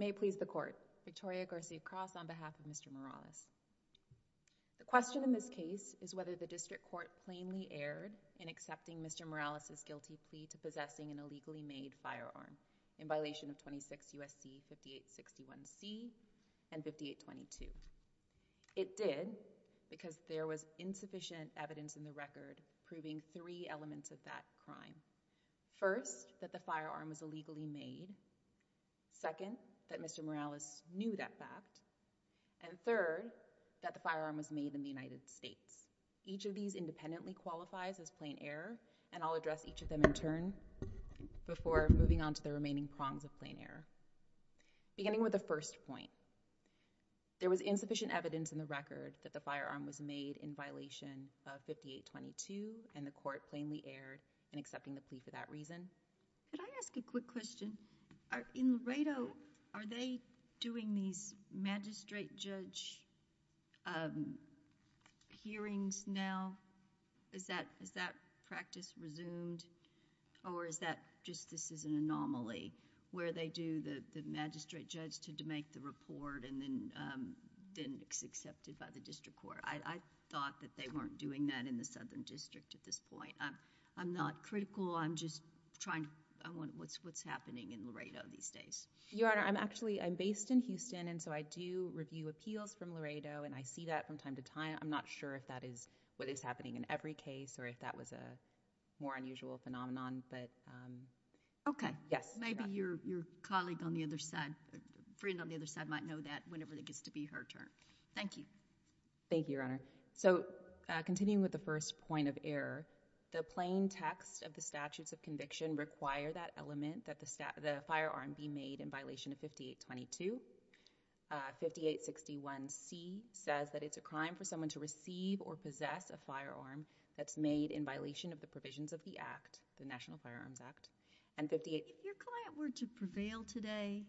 May it please the court, Victoria Garcia-Cross on behalf of Mr. Morales. The question in this case is whether the district court plainly erred in accepting Mr. Morales's and 5822. It did because there was insufficient evidence in the record proving three elements of that crime. First, that the firearm was illegally made. Second, that Mr. Morales knew that fact and third, that the firearm was made in the United States. Each of these independently qualifies as plain error and I'll address each of them in turn Before moving on to the remaining prongs of plain error. Beginning with the first point, there was insufficient evidence in the record that the firearm was made in violation of 5822 and the court plainly erred in accepting the plea for that reason. Could I ask a quick question? In Laredo, are they doing these magistrate judge hearings now? Is that practice resumed or is that just this is an anomaly where they do the magistrate judge to make the report and then it's accepted by the district court? I thought that they weren't doing that in the southern district at this point. I'm not critical. I'm just trying to... I wonder what's happening in Laredo these days. Your Honor, I'm actually, I'm based in Houston and so I do review appeals from Laredo and I see that from time to time. I'm not sure if that is what is happening in every case or if that was a more unusual phenomenon but... Okay. Yes. Maybe your colleague on the other side, friend on the other side might know that whenever it gets to be her turn. Thank you. Thank you, Your Honor. So continuing with the first point of error, the plain text of the statutes of conviction require that element that the firearm be made in violation of 5822. 5861C says that it's a crime for someone to receive or possess a firearm that's made in violation of the provisions of the Act, the National Firearms Act. And 58... If your client were to prevail today,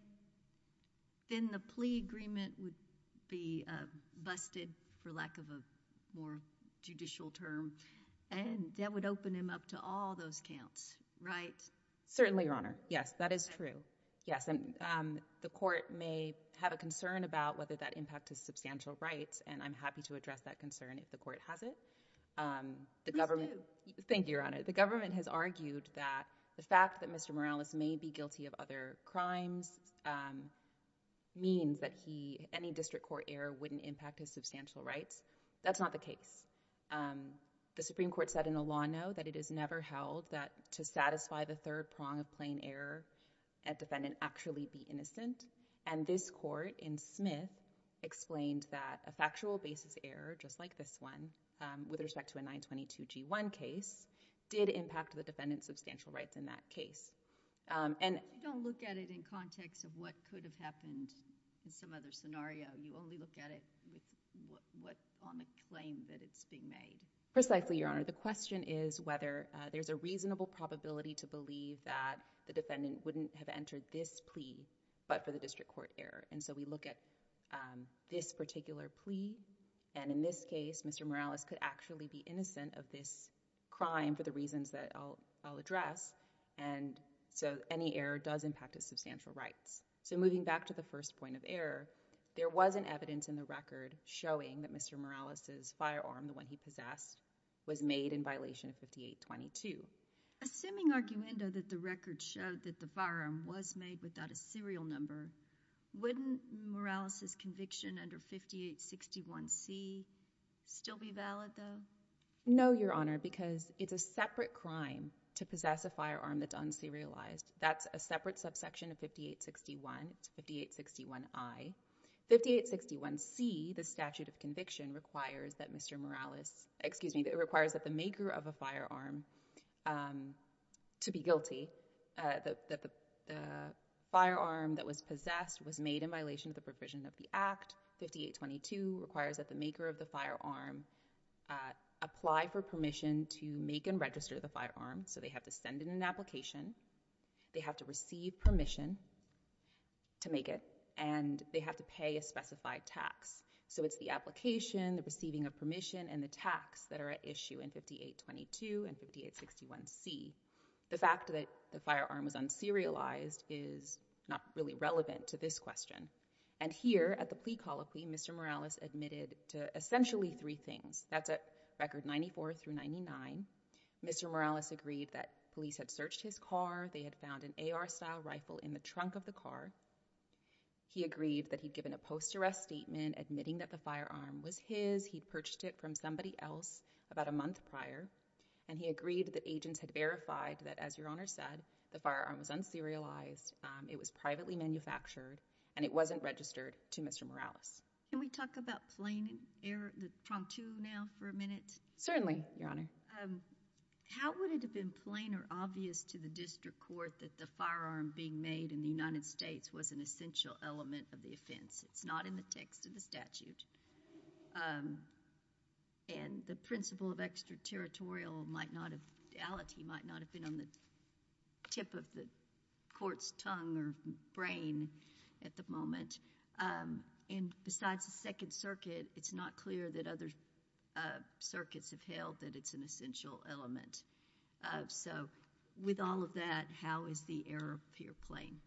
then the plea agreement would be busted for lack of a more judicial term and that would open him up to all those counts, right? Certainly, Your Honor. Yes. That is true. Yes. And the court may have a concern about whether that impact his substantial rights and I'm happy to address that concern if the court has it. The government... Please do. Thank you, Your Honor. The government has argued that the fact that Mr. Morales may be guilty of other crimes means that he... any district court error wouldn't impact his substantial rights. That's not the case. The Supreme Court said in a law note that it is never held that to satisfy the third defendant actually be innocent and this court in Smith explained that a factual basis error just like this one with respect to a 922-G1 case did impact the defendant's substantial rights in that case. And... You don't look at it in context of what could have happened in some other scenario. You only look at it with what... on the claim that it's being made. Precisely, Your Honor. The question is whether there's a reasonable probability to believe that the defendant wouldn't have entered this case. And in this case, Mr. Morales could actually be innocent of this crime for the reasons that I'll address and so any error does impact his substantial rights. So moving back to the first point of error, there was an evidence in the record showing that Mr. Morales' firearm, the one he possessed, was made in violation of 5822. Assuming, arguendo, that the record showed that the firearm was made without a serial number, wouldn't Morales' conviction under 5861C still be valid, though? No, Your Honor, because it's a separate crime to possess a firearm that's un-serialized. That's a separate subsection of 5861, it's 5861I. 5861C, the statute of conviction, requires that Mr. Morales... excuse me, it requires that the maker of a firearm, to be guilty, that the firearm that was possessed was made in violation of the provision of the Act, 5822, requires that the maker of the firearm apply for permission to make and register the firearm. So they have to send in an application, they have to receive permission to make it, and they have to pay a specified tax. So it's the application, the receiving of permission, and the tax that are at issue in 5822 and 5861C. The fact that the firearm was un-serialized is not really relevant to this question. And here, at the plea call, Mr. Morales admitted to essentially three things. That's at record 94 through 99. Mr. Morales agreed that police had searched his car, they had found an AR-style rifle in the trunk of the car. He agreed that he'd given a post-arrest statement admitting that the firearm was his, he'd purchased it from somebody else about a month prior. And he agreed that agents had verified that, as Your Honor said, the firearm was un-serialized, it was privately manufactured, and it wasn't registered to Mr. Morales. Can we talk about plain error, the prompt to now, for a minute? Certainly, Your Honor. How would it have been plain or obvious to the district court that the firearm being made in the United States was an essential element of the offense? It's not in the text of the statute. And the principle of extraterritorial might not have, the ality might not have been on the tip of the court's tongue or brain at the moment. And besides the Second Circuit, it's not clear that other circuits have held that it's an essential element. So with all of that, how is the error of fear plain?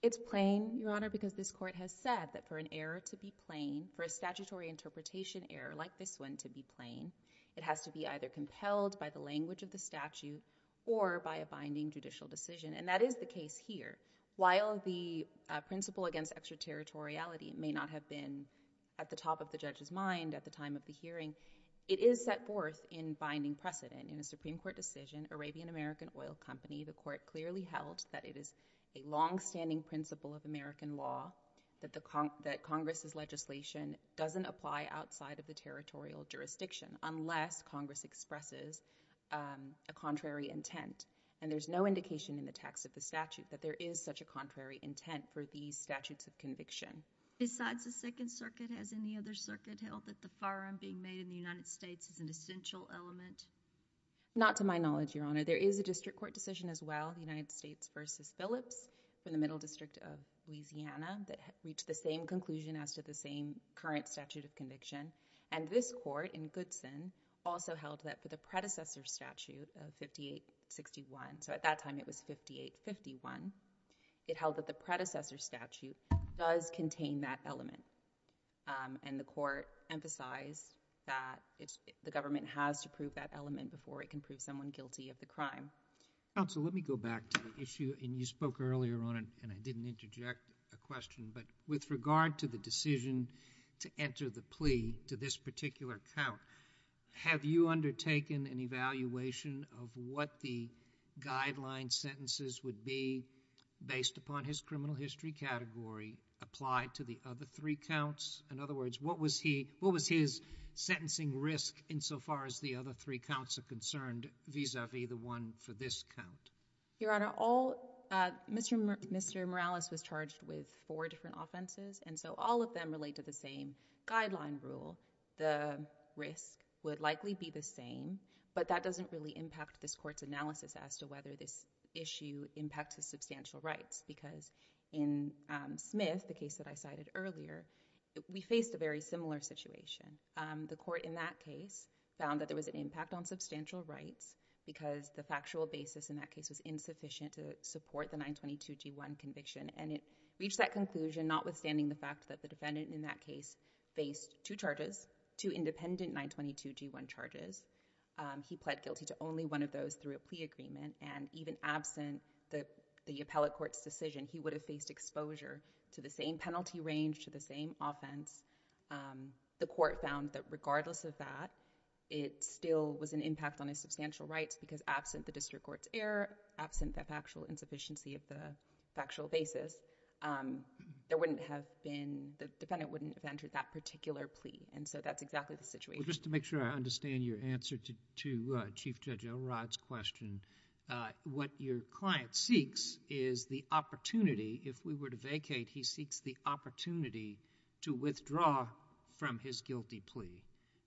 It's plain, Your Honor, because this court has said that for an error to be plain, for a statutory interpretation error like this one to be plain, it has to be either compelled by the language of the statute or by a binding judicial decision. And that is the case here. While the principle against extraterritoriality may not have been at the top of the judge's mind at the time of the hearing, it is set forth in binding precedent in a Supreme Court decision, Arabian American Oil Company. The court clearly held that it is a longstanding principle of American law that Congress's legislation doesn't apply outside of the territorial jurisdiction unless Congress expresses a contrary intent. And there's no indication in the text of the statute that there is such a contrary intent for these statutes of conviction. Besides the Second Circuit, has any other circuit held that the firearm being made in the United States is an essential element? Not to my knowledge, Your Honor. There is a district court decision as well, United States v. Phillips, from the Middle District of Louisiana, that reached the same conclusion as to the same current statute of conviction. And this court in Goodson also held that for the predecessor statute of 5861, so at that time, it did not contain that element. And the court emphasized that the government has to prove that element before it can prove someone guilty of the crime. Counsel, let me go back to the issue, and you spoke earlier on it, and I didn't interject a question, but with regard to the decision to enter the plea to this particular count, have you undertaken an evaluation of what the guideline sentences would be based upon his criminal history category applied to the other three counts? In other words, what was his sentencing risk insofar as the other three counts are concerned vis-a-vis the one for this count? Your Honor, Mr. Morales was charged with four different offenses, and so all of them relate to the same guideline rule. The risk would likely be the same, but that doesn't really impact this court's analysis as to whether this issue impacts his substantial rights, because in Smith, the case that I cited earlier, we faced a very similar situation. The court in that case found that there was an impact on substantial rights because the factual basis in that case was insufficient to support the 922g1 conviction, and it reached that conclusion notwithstanding the fact that the defendant in that case faced two charges, two independent 922g1 charges. He pled guilty to only one of those through a plea agreement, and even absent the appellate court's decision, he would have faced exposure to the same penalty range, to the same offense. The court found that regardless of that, it still was an impact on his substantial rights because absent the district court's error, absent the factual insufficiency of the factual basis, there wouldn't have been, the defendant wouldn't have entered that particular plea, and so that's exactly the situation. Just to make sure I understand your answer to Chief Judge O'Rod's question, what your client seeks is the opportunity, if we were to vacate, he seeks the opportunity to withdraw from his guilty plea,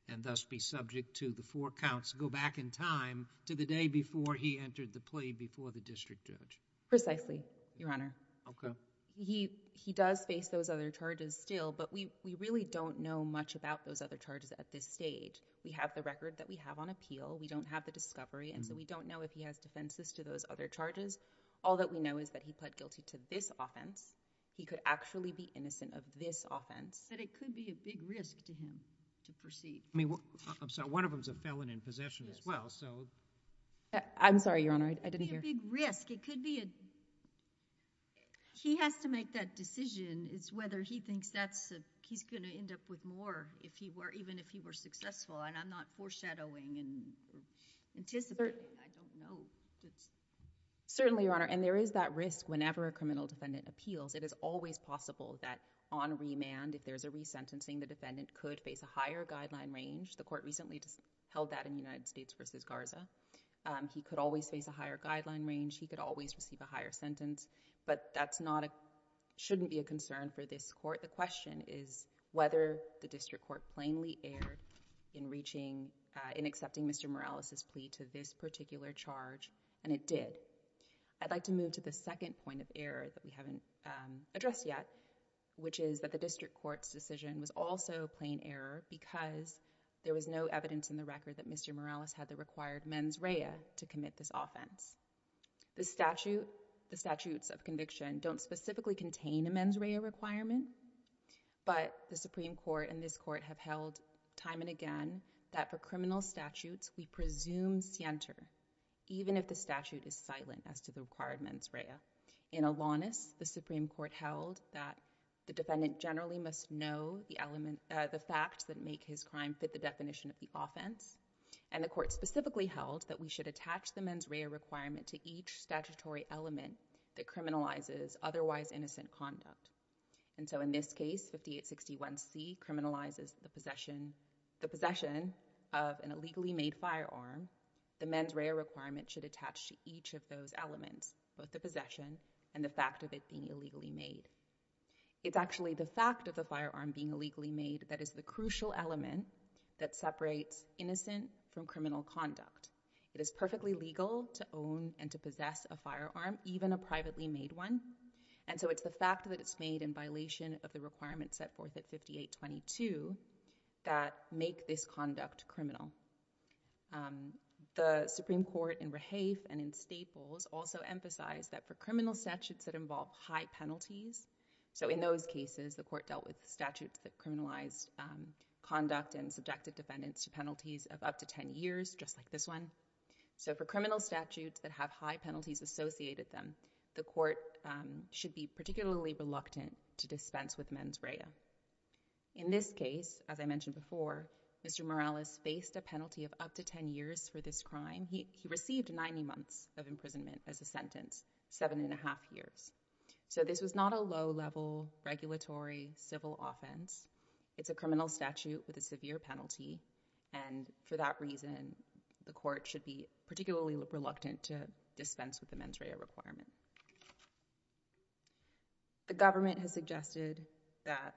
and thus be subject to the four counts go back in time to the day before he entered the plea before the district judge. Precisely, Your Honor. Okay. He does face those other charges still, but we really don't know much about those other charges at this stage. We have the record that we have on appeal, we don't have the discovery, and so we don't know if he has defenses to those other charges. All that we know is that he pled guilty to this offense, he could actually be innocent of this offense. But it could be a big risk to him to proceed. I mean, I'm sorry, one of them's a felon in possession as well, so... I'm sorry, Your Honor, I didn't hear. It could be a big risk. It could be a... he has to make that decision as whether he thinks that's a... he's going to end up with more if he were... even if he were successful, and I'm not foreshadowing and anticipating. I don't know. Certainly, Your Honor, and there is that risk whenever a criminal defendant appeals. It is always possible that on remand, if there's a resentencing, the defendant could face a higher guideline range. The court recently held that in the United States v. Garza. He could always face a higher guideline range, he could always receive a higher sentence, but that's not a... shouldn't be a concern for this court. The question is whether the district court plainly erred in reaching... in accepting Mr. Morales' plea to this particular charge, and it did. I'd like to move to the second point of error that we haven't addressed yet, which is that the district court's decision was also a plain error because there was no evidence in the record that Mr. Morales had the required mens rea to commit this offense. The statute... the statutes of conviction don't specifically contain a mens rea requirement, but the Supreme Court and this court have held time and again that for criminal statutes, we presume scienter, even if the statute is silent as to the required mens rea. In Alanis, the Supreme Court held that the defendant generally must know the element... the facts that make his crime fit the definition of the offense, and the court specifically held that we should attach the mens rea requirement to each statutory element that criminalizes otherwise innocent conduct. And so in this case, 5861C criminalizes the possession... the possession of an illegally made firearm. The mens rea requirement should attach to each of those elements, both the possession and the fact of it being illegally made. It's actually the fact of the firearm being illegally made that is the crucial element that separates innocent from criminal conduct. It is perfectly legal to own and to possess a firearm, even a privately made one, and so it's the fact that it's made in violation of the requirements set forth at 5822 that make this conduct criminal. The Supreme Court in Rahafe and in Staples also emphasized that for criminal statutes that involve high penalties... so in those cases, the court dealt with statutes that criminalized conduct and subjected defendants to penalties of up to 10 years, just like this one. So for criminal statutes that have high penalties associated with them, the court should be particularly reluctant to dispense with mens rea. In this case, as I mentioned before, Mr. Morales faced a penalty of up to 10 years for this crime. He received 90 months of imprisonment as a sentence, seven and a half years. So this was not a low-level, regulatory, civil offense. It's a criminal statute with a severe penalty, and for that reason, the court should be particularly reluctant to dispense with the mens rea requirement. The government has suggested that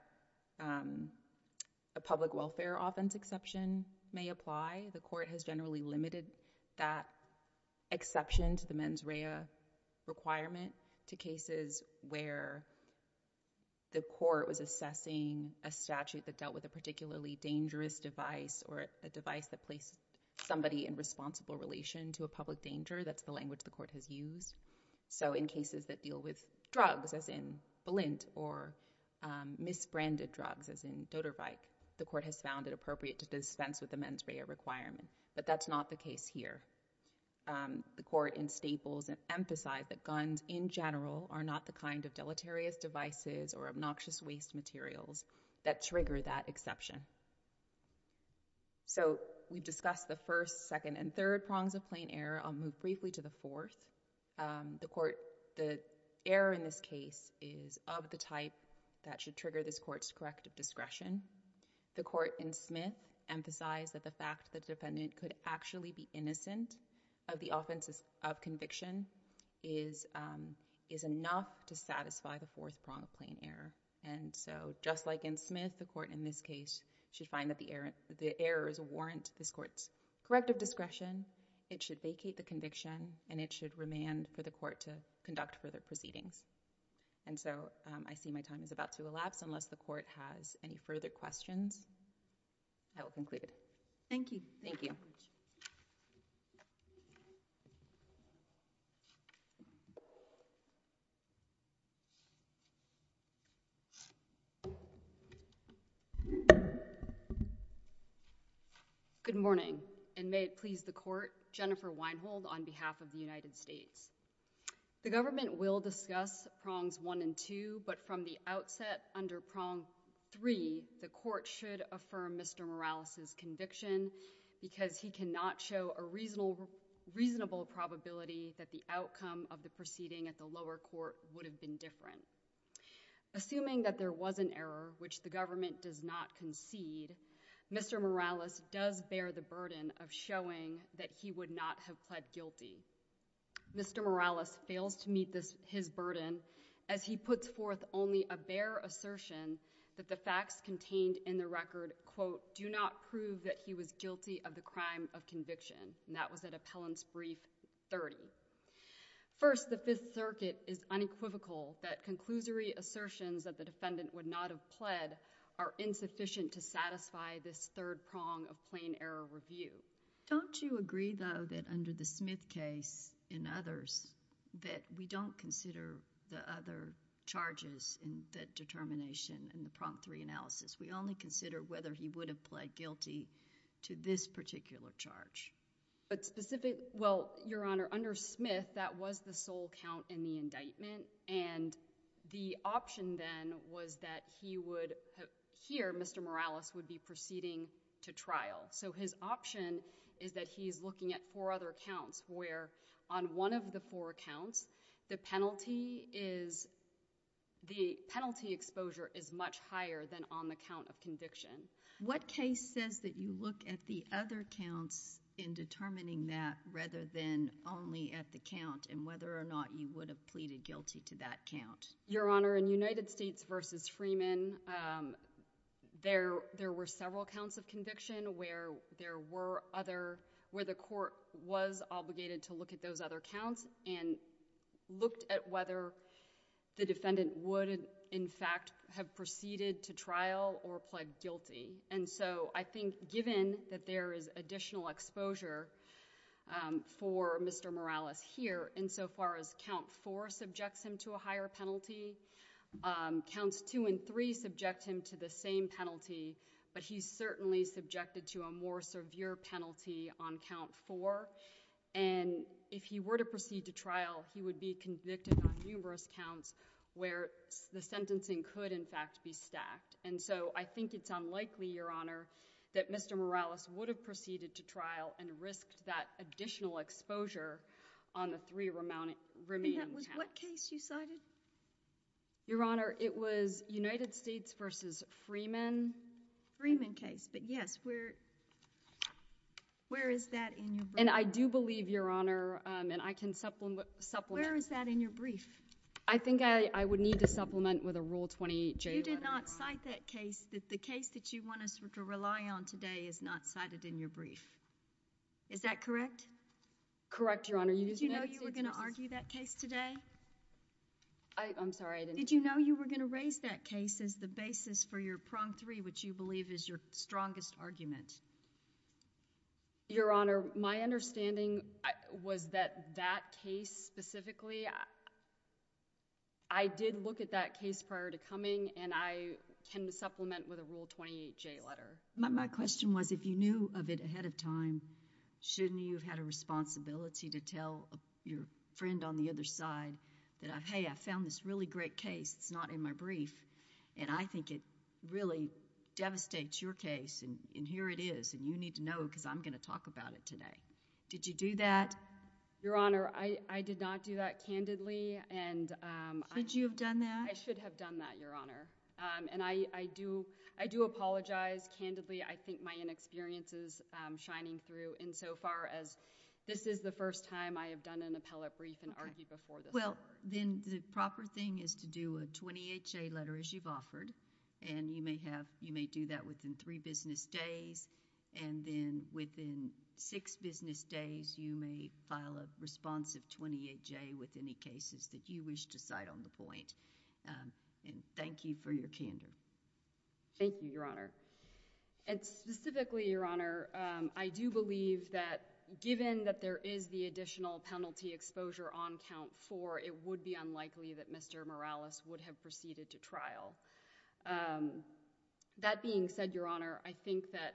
a public welfare offense exception may apply. The court has generally limited that exception to the mens rea requirement to cases where the court was assessing a statute that dealt with a particularly dangerous device or a device that placed somebody in responsible relation to a public danger. That's the language the court has used. So in cases that deal with drugs, as in Balint, or misbranded drugs, as in Doderweick, the court has found it appropriate to dispense with the mens rea requirement, but that's not the case here. The court in Staples emphasized that guns in general are not the kind of deleterious devices or obnoxious waste materials that trigger that exception. So we've discussed the first, second, and third prongs of plain error. I'll move briefly to the fourth. The error in this case is of the type that should trigger this court's corrective discretion. The court in Smith emphasized that the fact that the defendant could actually be innocent of the offenses of conviction is enough to satisfy the fourth prong of plain error. And so just like in Smith, the court in this case should find that the errors warrant this court's corrective discretion. It should vacate the conviction, and it should remand for the court to conduct further proceedings. And so I see my time is about to elapse, unless the court has any further questions. I will conclude it. Thank you. Thank you. Good morning, and may it please the court, Jennifer Weinhold on behalf of the United States. The government will discuss prongs one and two, but from the outset under prong three, the court should affirm Mr. Morales' conviction because he cannot show a reasonable probability that the outcome of the proceeding at the lower court would have been different. Assuming that there was an error which the government does not concede, Mr. Morales does bear the burden of showing that he would not have pled guilty. Mr. Morales fails to meet his burden as he puts forth only a bare assertion that the facts contained in the record, quote, do not prove that he was guilty of the crime of conviction. And that was at appellant's brief 30. First, the Fifth Circuit is unequivocal that conclusory assertions that the defendant would not have pled are insufficient to satisfy this third prong of plain error review. Don't you agree though that under the Smith case and others that we don't consider the other charges in the determination in the prong three analysis? We only consider whether he would have pled guilty to this particular charge. But specific, well, Your Honor, under Smith, that was the sole count in the indictment and the option then was that he would, here Mr. Morales would be proceeding to trial. So his option is that he is looking at four other counts where on one of the four counts the penalty is, the penalty exposure is much higher than on the count of conviction. What case says that you look at the other counts in determining that rather than only at the count and whether or not you would have pleaded guilty to that count? Your Honor, in United States v. Freeman, there were several counts of conviction where there were other, where the court was obligated to look at those other counts and looked at whether the defendant would in fact have proceeded to trial or pled guilty. And so I think given that there is additional exposure for Mr. Morales here, in so far as count four subjects him to a higher penalty, counts two and three subject him to the same penalty, but he's certainly subjected to a more severe penalty on count four. And if he were to proceed to trial, he would be convicted on numerous counts where the sentencing could in fact be stacked. And so I think it's unlikely, Your Honor, that Mr. Morales would have proceeded to trial and risked that additional exposure on the three remaining counts. And that was what case you cited? Your Honor, it was United States v. Freeman. Freeman case. But yes, where is that in your brief? And I do believe, Your Honor, and I can supplement. Where is that in your brief? I think I would need to supplement with a Rule 28J. You did not cite that case that the case that you want us to rely on today is not cited in your brief. Is that correct? Correct, Your Honor. Did you know you were going to argue that case today? I'm sorry, I didn't. Did you know you were going to raise that case as the basis for your prong three, which you believe is your strongest argument? Your Honor, my understanding was that that case specifically, I did look at that case prior to coming, and I can supplement with a Rule 28J letter. My question was, if you knew of it ahead of time, shouldn't you have had a responsibility to tell your friend on the other side that, hey, I found this really great case, it's not in my brief, and I think it really devastates your case, and here it is, and you need to know because I'm going to talk about it today. Did you do that? Your Honor, I did not do that candidly. Should you have done that? I should have done that, Your Honor. And I do apologize candidly. I think my inexperience is shining through insofar as this is the first time I have done an appellate brief and argued before this court. Well, then the proper thing is to do a 28J letter, as you've offered, and you may do that within three business days, and then within six business days, you may file a responsive 28J with any cases that you wish to cite on the point. And thank you for your candor. Thank you, Your Honor. And specifically, Your Honor, I do believe that given that there is the additional penalty exposure on count four, it would be unlikely that Mr. Morales would have proceeded to trial. That being said, Your Honor, I think that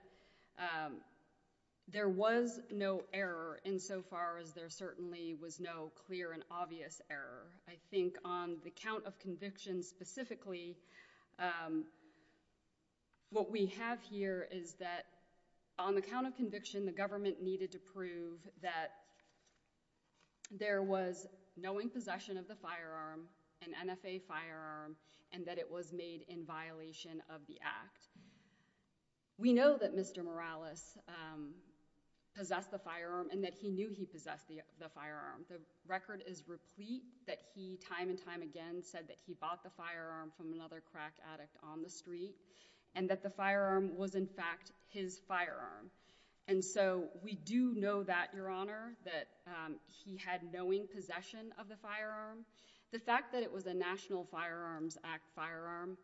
there was no error insofar as there certainly was no clear and obvious error. I think on the count of conviction specifically, what we have here is that on the count of conviction, the government needed to prove that there was knowing possession of the firearm that was made in violation of the act. We know that Mr. Morales possessed the firearm and that he knew he possessed the firearm. The record is replete that he time and time again said that he bought the firearm from another crack addict on the street and that the firearm was, in fact, his firearm. And so we do know that, Your Honor, that he had knowing possession of the firearm. The fact that it was a National Firearms Act firearm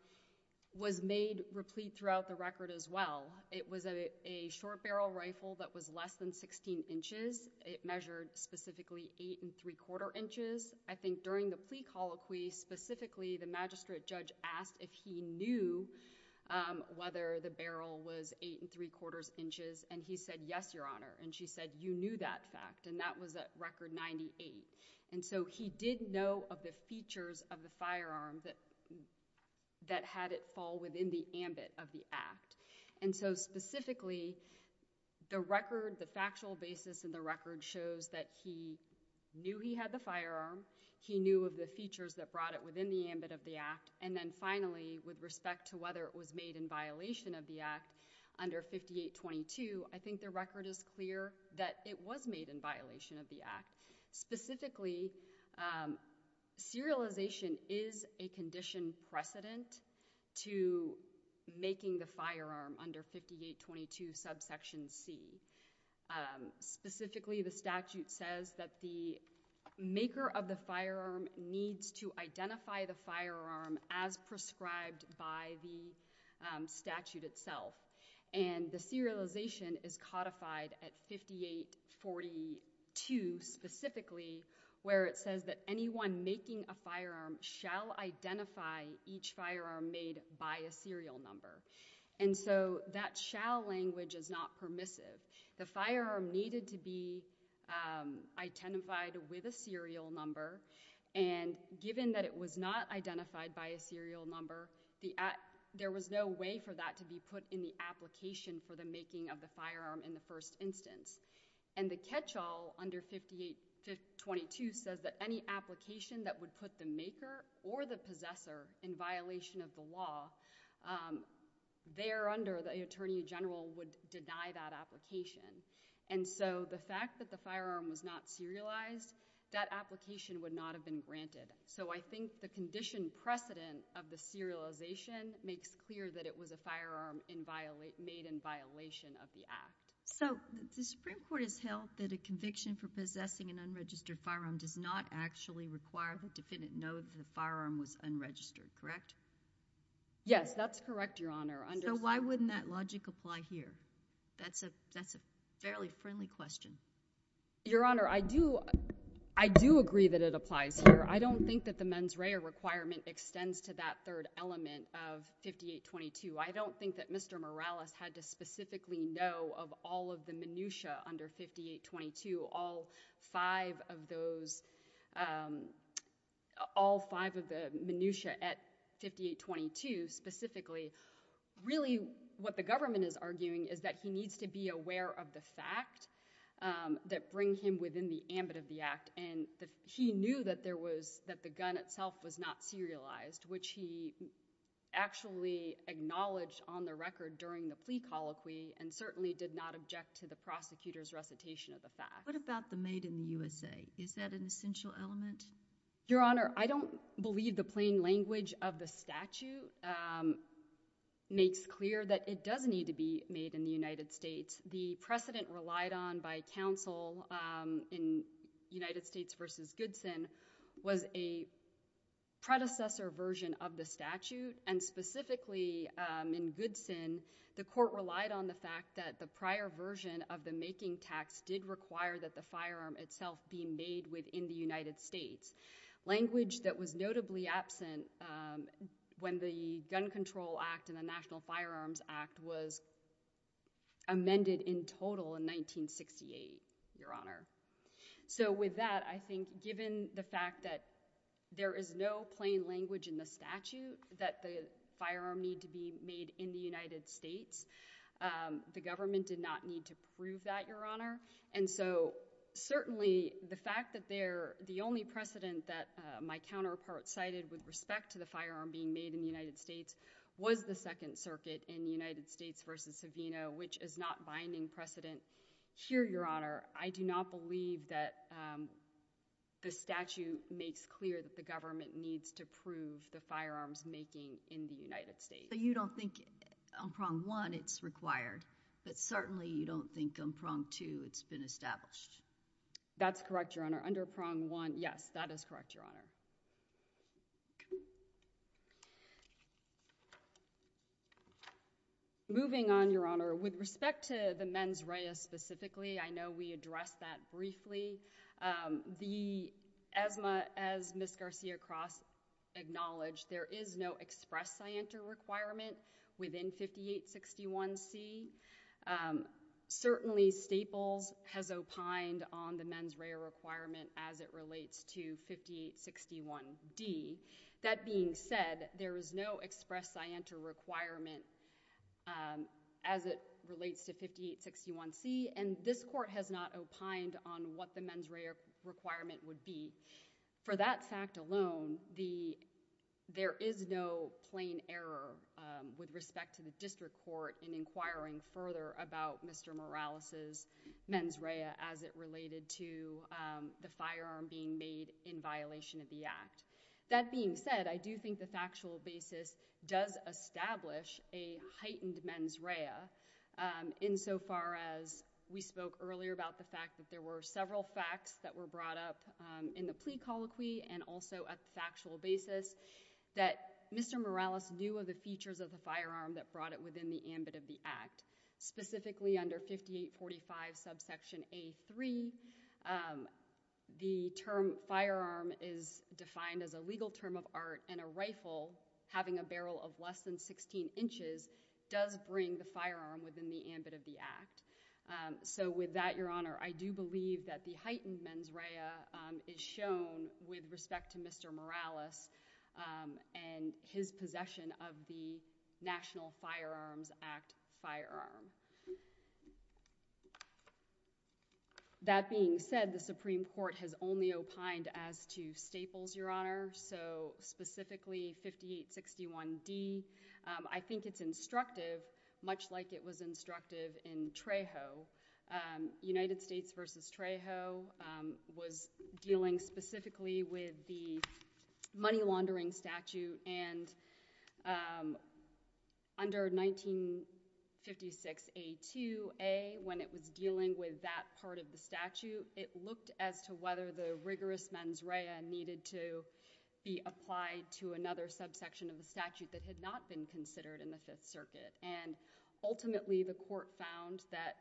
was made replete throughout the record as well. It was a short barrel rifle that was less than sixteen inches. It measured specifically eight and three-quarter inches. I think during the plea colloquy specifically, the magistrate judge asked if he knew whether the barrel was eight and three-quarters inches, and he said, yes, Your Honor. And she said, you knew that fact, and that was at record ninety-eight. And so he did know of the features of the firearm that had it fall within the ambit of the act. And so specifically, the record, the factual basis in the record shows that he knew he had the firearm, he knew of the features that brought it within the ambit of the act, and then finally, with respect to whether it was made in violation of the act under 5822, I think the record is clear that it was made in violation of the act. Specifically, serialization is a condition precedent to making the firearm under 5822 subsection C. Specifically, the statute says that the maker of the firearm needs to identify the firearm as prescribed by the statute itself. And the serialization is codified at 5842 specifically, where it says that anyone making a firearm shall identify each firearm made by a serial number. And so that shall language is not permissive. The firearm needed to be identified with a serial number, and given that it was not identified by a serial number, there was no way for that to be put in the application for the making of the firearm in the first instance. And the catch-all under 5822 says that any application that would put the maker or the possessor in violation of the law, there under the attorney general would deny that application. And so the fact that the firearm was not serialized, that application would not have been granted. So I think the condition precedent of the serialization makes clear that it was a firearm made in violation of the act. So the Supreme Court has held that a conviction for possessing an unregistered firearm does not actually require the defendant to know that the firearm was unregistered, correct? Yes, that's correct, Your Honor. So why wouldn't that logic apply here? That's a fairly friendly question. Your Honor, I do agree that it applies here. I don't think that the mens rea requirement extends to that third element of 5822. I don't think that Mr. Morales had to specifically know of all of the minutia under 5822, all five of those... all five of the minutia at 5822 specifically. Really, what the government is arguing is that he needs to be aware of the fact that bring him within the ambit of the act. And he knew that there was... that the gun itself was not serialized, which he actually acknowledged on the record during the plea colloquy and certainly did not object to the prosecutor's recitation of the fact. What about the made in the USA? Is that an essential element? Your Honor, I don't believe the plain language of the statute makes clear that it does need to be made in the United States. The precedent relied on by counsel in United States v. Goodson was a predecessor version of the statute and specifically in Goodson, the court relied on the fact that the prior version of the making tax did require that the firearm itself be made within the United States. Language that was notably absent when the Gun Control Act and the National Firearms Act was amended in total in 1968, Your Honor. So with that, I think given the fact that there is no plain language in the statute that the firearm need to be made in the United States, the government did not need to prove that, Your Honor. And so certainly the fact that there... the only precedent that my counterpart cited with respect to the firearm being made in the United States was the Second Circuit in United States v. Savino, which is not binding precedent. Here, Your Honor, I do not believe that the statute makes clear that the government needs to prove the firearms making in the United States. But you don't think on prong one it's required, but certainly you don't think on prong two it's been established. That's correct, Your Honor. Under prong one, yes, that is correct, Your Honor. Okay. Moving on, Your Honor, with respect to the mens rea specifically, I know we addressed that briefly. The ESMA, as Ms. Garcia-Cross acknowledged, there is no express scienter requirement within 5861C. Certainly, Staples has opined on the mens rea requirement as it relates to 5861D. That being said, there is no express scienter requirement as it relates to 5861C, and this court has not opined on what the mens rea requirement would be. For that fact alone, there is no plain error with respect to the district court in inquiring further about Mr. Morales' mens rea as it related to the firearm being made in violation of the Act. That being said, I do think the factual basis does establish a heightened mens rea insofar as we spoke earlier about the fact that there were several facts that were brought up in the plea colloquy and also at the factual basis that Mr. Morales knew of the features of the firearm that brought it within the ambit of the Act, specifically under 5845 subsection A3. The term firearm is defined as a legal term of art, and a rifle having a barrel of less than 16 inches does bring the firearm within the ambit of the Act. So with that, Your Honor, I do believe that the heightened mens rea is shown with respect to Mr. Morales and his possession of the National Firearms Act firearm. That being said, the Supreme Court has only opined as to staples, Your Honor, so specifically 5861D. I think it's instructive, much like it was instructive in Trejo. United States versus Trejo was dealing specifically with the money laundering statute, and under 1956A2A, when it was dealing with that part of the statute, it looked as to whether the rigorous mens rea needed to be applied to another subsection of the statute that had not been considered in the Fifth Circuit. And ultimately, the court found that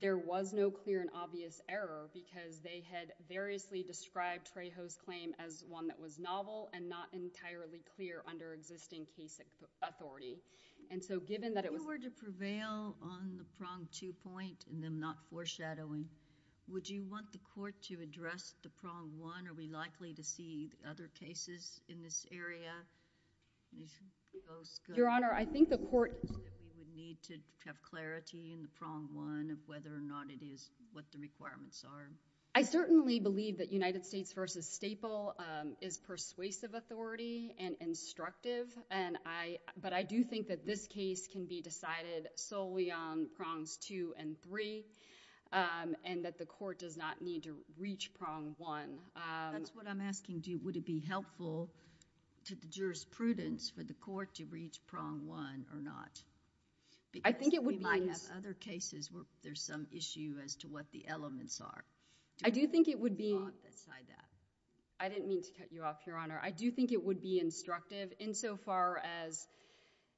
there was no clear and obvious error because they had variously described Trejo's claim as one that was novel and not entirely clear under existing case authority. And so given that it was- If you were to prevail on the prong two point and then not foreshadowing, would you want the court to address the prong one? Are we likely to see other cases in this area? Your Honor, I think the court- We would need to have clarity in the prong one of whether or not it is what the requirements are. I certainly believe that United States versus Staple is persuasive authority and instructive, but I do think that this case can be decided solely on prongs two and three, and that the court does not need to reach prong one. That's what I'm asking. Would it be helpful to the jurisprudence for the court to reach prong one or not? I think it would- We might have other cases where there's some issue as to what the elements are. I do think it would be- I didn't mean to cut you off, Your Honor. I do think it would be instructive insofar as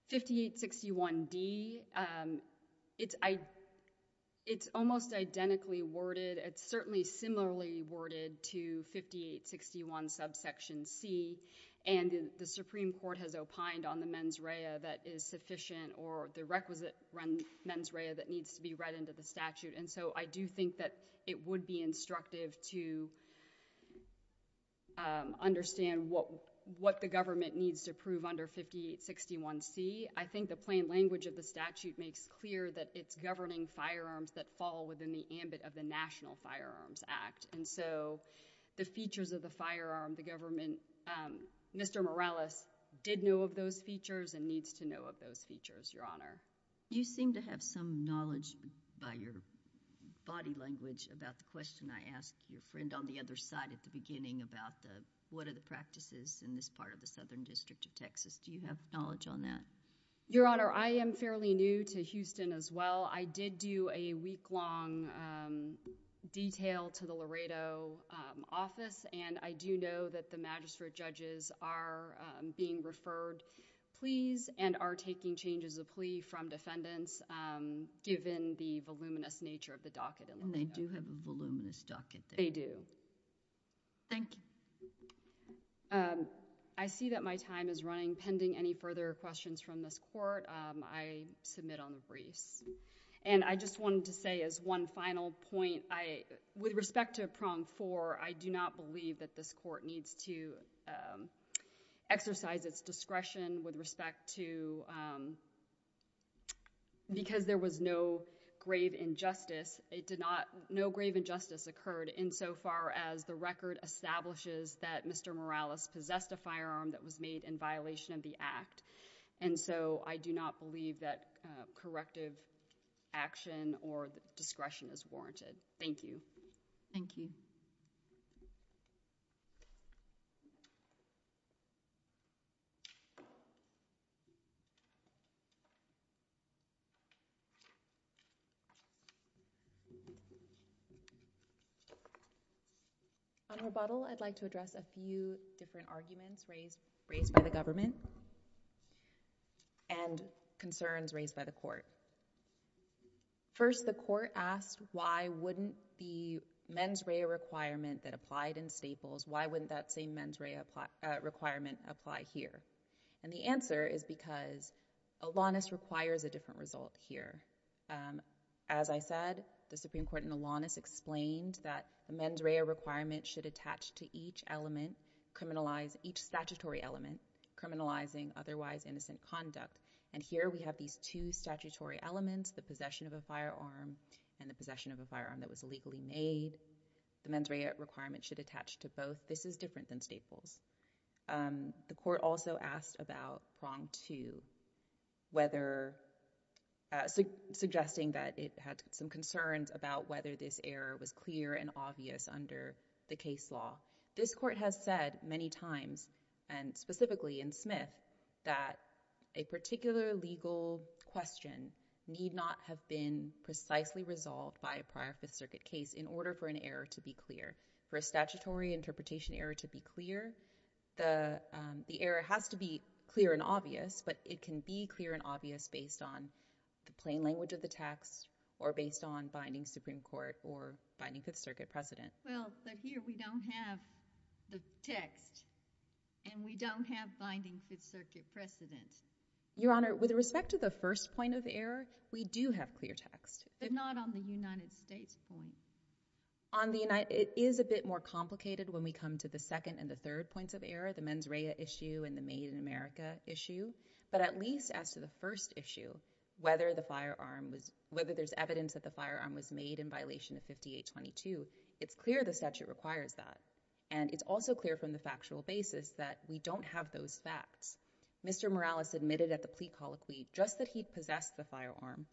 5861D, it's almost identically worded. It's certainly similarly worded to 5861 subsection C, and the Supreme Court has opined on the mens rea that is sufficient or the requisite mens rea that needs to be read into the statute, and so I do think that it would be instructive to understand what the government needs to prove under 5861C. I think the plain language of the statute makes clear that it's governing firearms that fall within the ambit of the National Firearms Act, and so the features of the firearm, the government, Mr. Morales did know of those features and needs to know of those features, Your Honor. You seem to have some knowledge by your body language about the question I asked your friend on the other side at the beginning about what are the practices in this part of the Southern District of Texas. Do you have knowledge on that? Your Honor, I am fairly new to Houston as well. I did do a week-long detail to the Laredo office, and I do know that the magistrate judges are being referred. Please, and are taking changes of plea from defendants given the voluminous nature of the docket in Laredo. And they do have a voluminous docket there. They do. Thank you. I see that my time is running. Pending any further questions from this court, I submit on the briefs, and I just wanted to say as one final point, with respect to prong four, I do not believe that this court needs to exercise its discretion with respect to... Because there was no grave injustice, no grave injustice occurred insofar as the record establishes that Mr. Morales possessed a firearm that was made in violation of the act. And so I do not believe that corrective action or discretion is warranted. Thank you. Thank you. On rebuttal, I'd like to address a few different arguments raised by the government and concerns raised by the court. First, the court asked why wouldn't the mens rea requirement that applied in Staples, why wouldn't that same mens rea requirement apply here? And the answer is because Alanis requires a different result here. As I said, the Supreme Court in Alanis explained that the mens rea requirement should attach to each element, criminalize each statutory element, criminalizing otherwise innocent conduct. And here we have these two statutory elements, the possession of a firearm and the possession of a firearm that was illegally made. The mens rea requirement should attach to both. This is different than Staples. The court also asked about prong two, suggesting that it had some concerns about whether this error was clear and obvious under the case law. This court has said many times, and specifically in Smith, that a particular legal question need not have been precisely resolved by a prior Fifth Circuit case in order for an error to be clear. For a statutory interpretation error to be clear, the error has to be clear and obvious, but it can be clear and obvious based on the plain language of the text or based on binding Supreme Court or binding Fifth Circuit precedent. Well, but here we don't have the text and we don't have binding Fifth Circuit precedent. Your Honor, with respect to the first point of error, we do have clear text. But not on the United States point. It is a bit more complicated when we come to the second and the third points of error, the mens rea issue and the made in America issue. But at least as to the first issue, whether the firearm was, whether there's evidence that the firearm was made in violation of 5822, it's clear the statute requires that. And it's also clear from the factual basis that we don't have those facts. Mr. Morales admitted at the plea colloquy just that he possessed the firearm.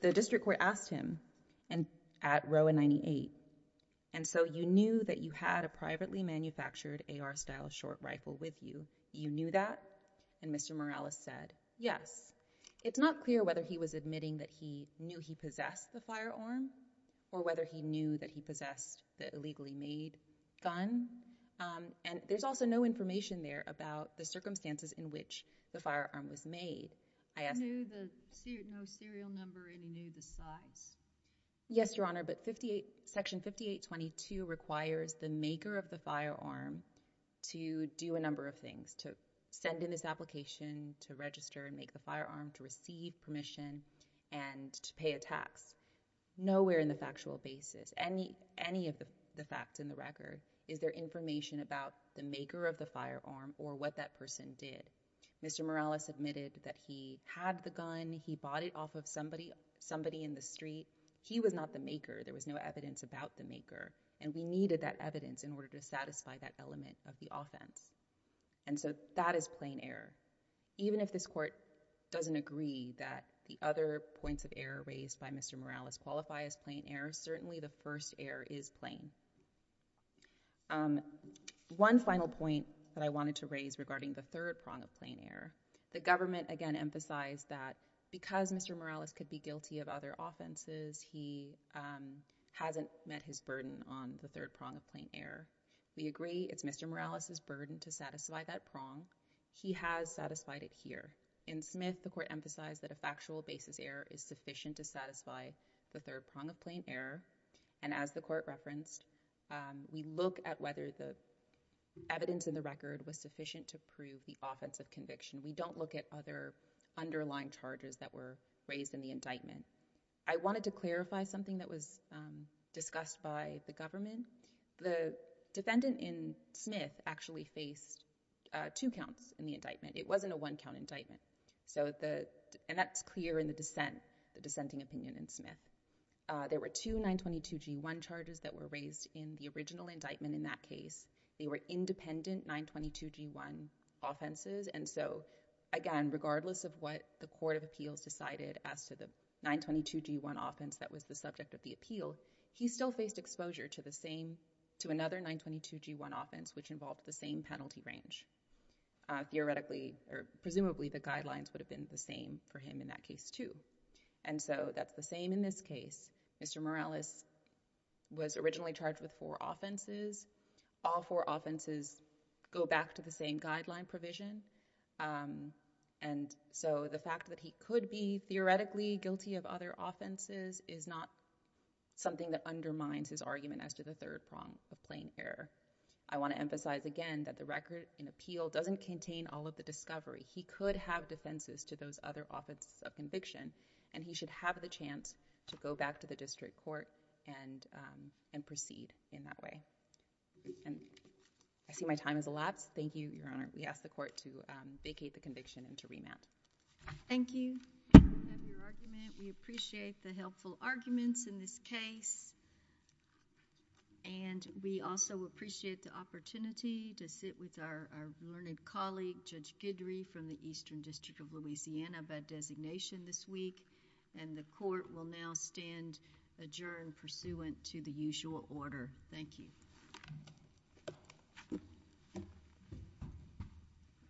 The district court asked him at Roe 98, and so you knew that you had a privately manufactured AR-style short rifle with you. You knew that? And Mr. Morales said, yes. It's not clear whether he was admitting that he knew he possessed the firearm or whether he knew that he possessed the illegally made gun. And there's also no information there about the circumstances in which the firearm was made. No serial number, and he knew the size? Yes, Your Honor, but Section 5822 requires the maker of the firearm to do a number of things, to send in this application, to register and make the firearm, to receive permission, and to pay a tax. Nowhere in the factual basis, any of the facts in the record, is there information about the maker of the firearm or what that person did. Mr. Morales admitted that he had the gun, he bought it off of somebody in the street. He was not the maker. There was no evidence about the maker, and we needed that evidence in order to satisfy that element of the offense. And so that is plain error. Even if this court doesn't agree that the other points of error raised by Mr. Morales qualify as plain error, certainly the first error is plain. One final point that I wanted to raise is regarding the third prong of plain error. The government, again, emphasized that because Mr. Morales could be guilty of other offenses, he hasn't met his burden on the third prong of plain error. We agree it's Mr. Morales' burden to satisfy that prong. He has satisfied it here. In Smith, the court emphasized that a factual basis error is sufficient to satisfy the third prong of plain error, and as the court referenced, we look at whether the evidence in the record was sufficient to prove the offense of conviction. We don't look at other underlying charges that were raised in the indictment. I wanted to clarify something that was discussed by the government. The defendant in Smith actually faced two counts in the indictment. It wasn't a one-count indictment, and that's clear in the dissent, the dissenting opinion in Smith. There were two 922g1 charges that were raised in the original indictment in that case. They were independent 922g1 offenses, and so, again, regardless of what the court of appeals decided as to the 922g1 offense that was the subject of the appeal, he still faced exposure to the same, to another 922g1 offense which involved the same penalty range. Theoretically, or presumably, the guidelines would have been the same for him in that case, too, and so that's the same in this case. Mr. Morales was originally charged with four offenses. All four offenses go back to the same guideline provision, and so the fact that he could be theoretically guilty of other offenses is not something that undermines his argument as to the third prong of plain error. I want to emphasize again that the record in appeal doesn't contain all of the discovery. He could have defenses to those other offenses of conviction, and he should have the chance to go back to the district court and proceed in that way. I see my time has elapsed. Thank you, Your Honor. We ask the court to vacate the conviction and to remand. Thank you. We appreciate the helpful arguments in this case, and we also appreciate the opportunity to sit with our learned colleague, Judge Guidry, from the Eastern District of Louisiana by designation this week, and the court will now stand adjourned pursuant to the usual order. Thank you.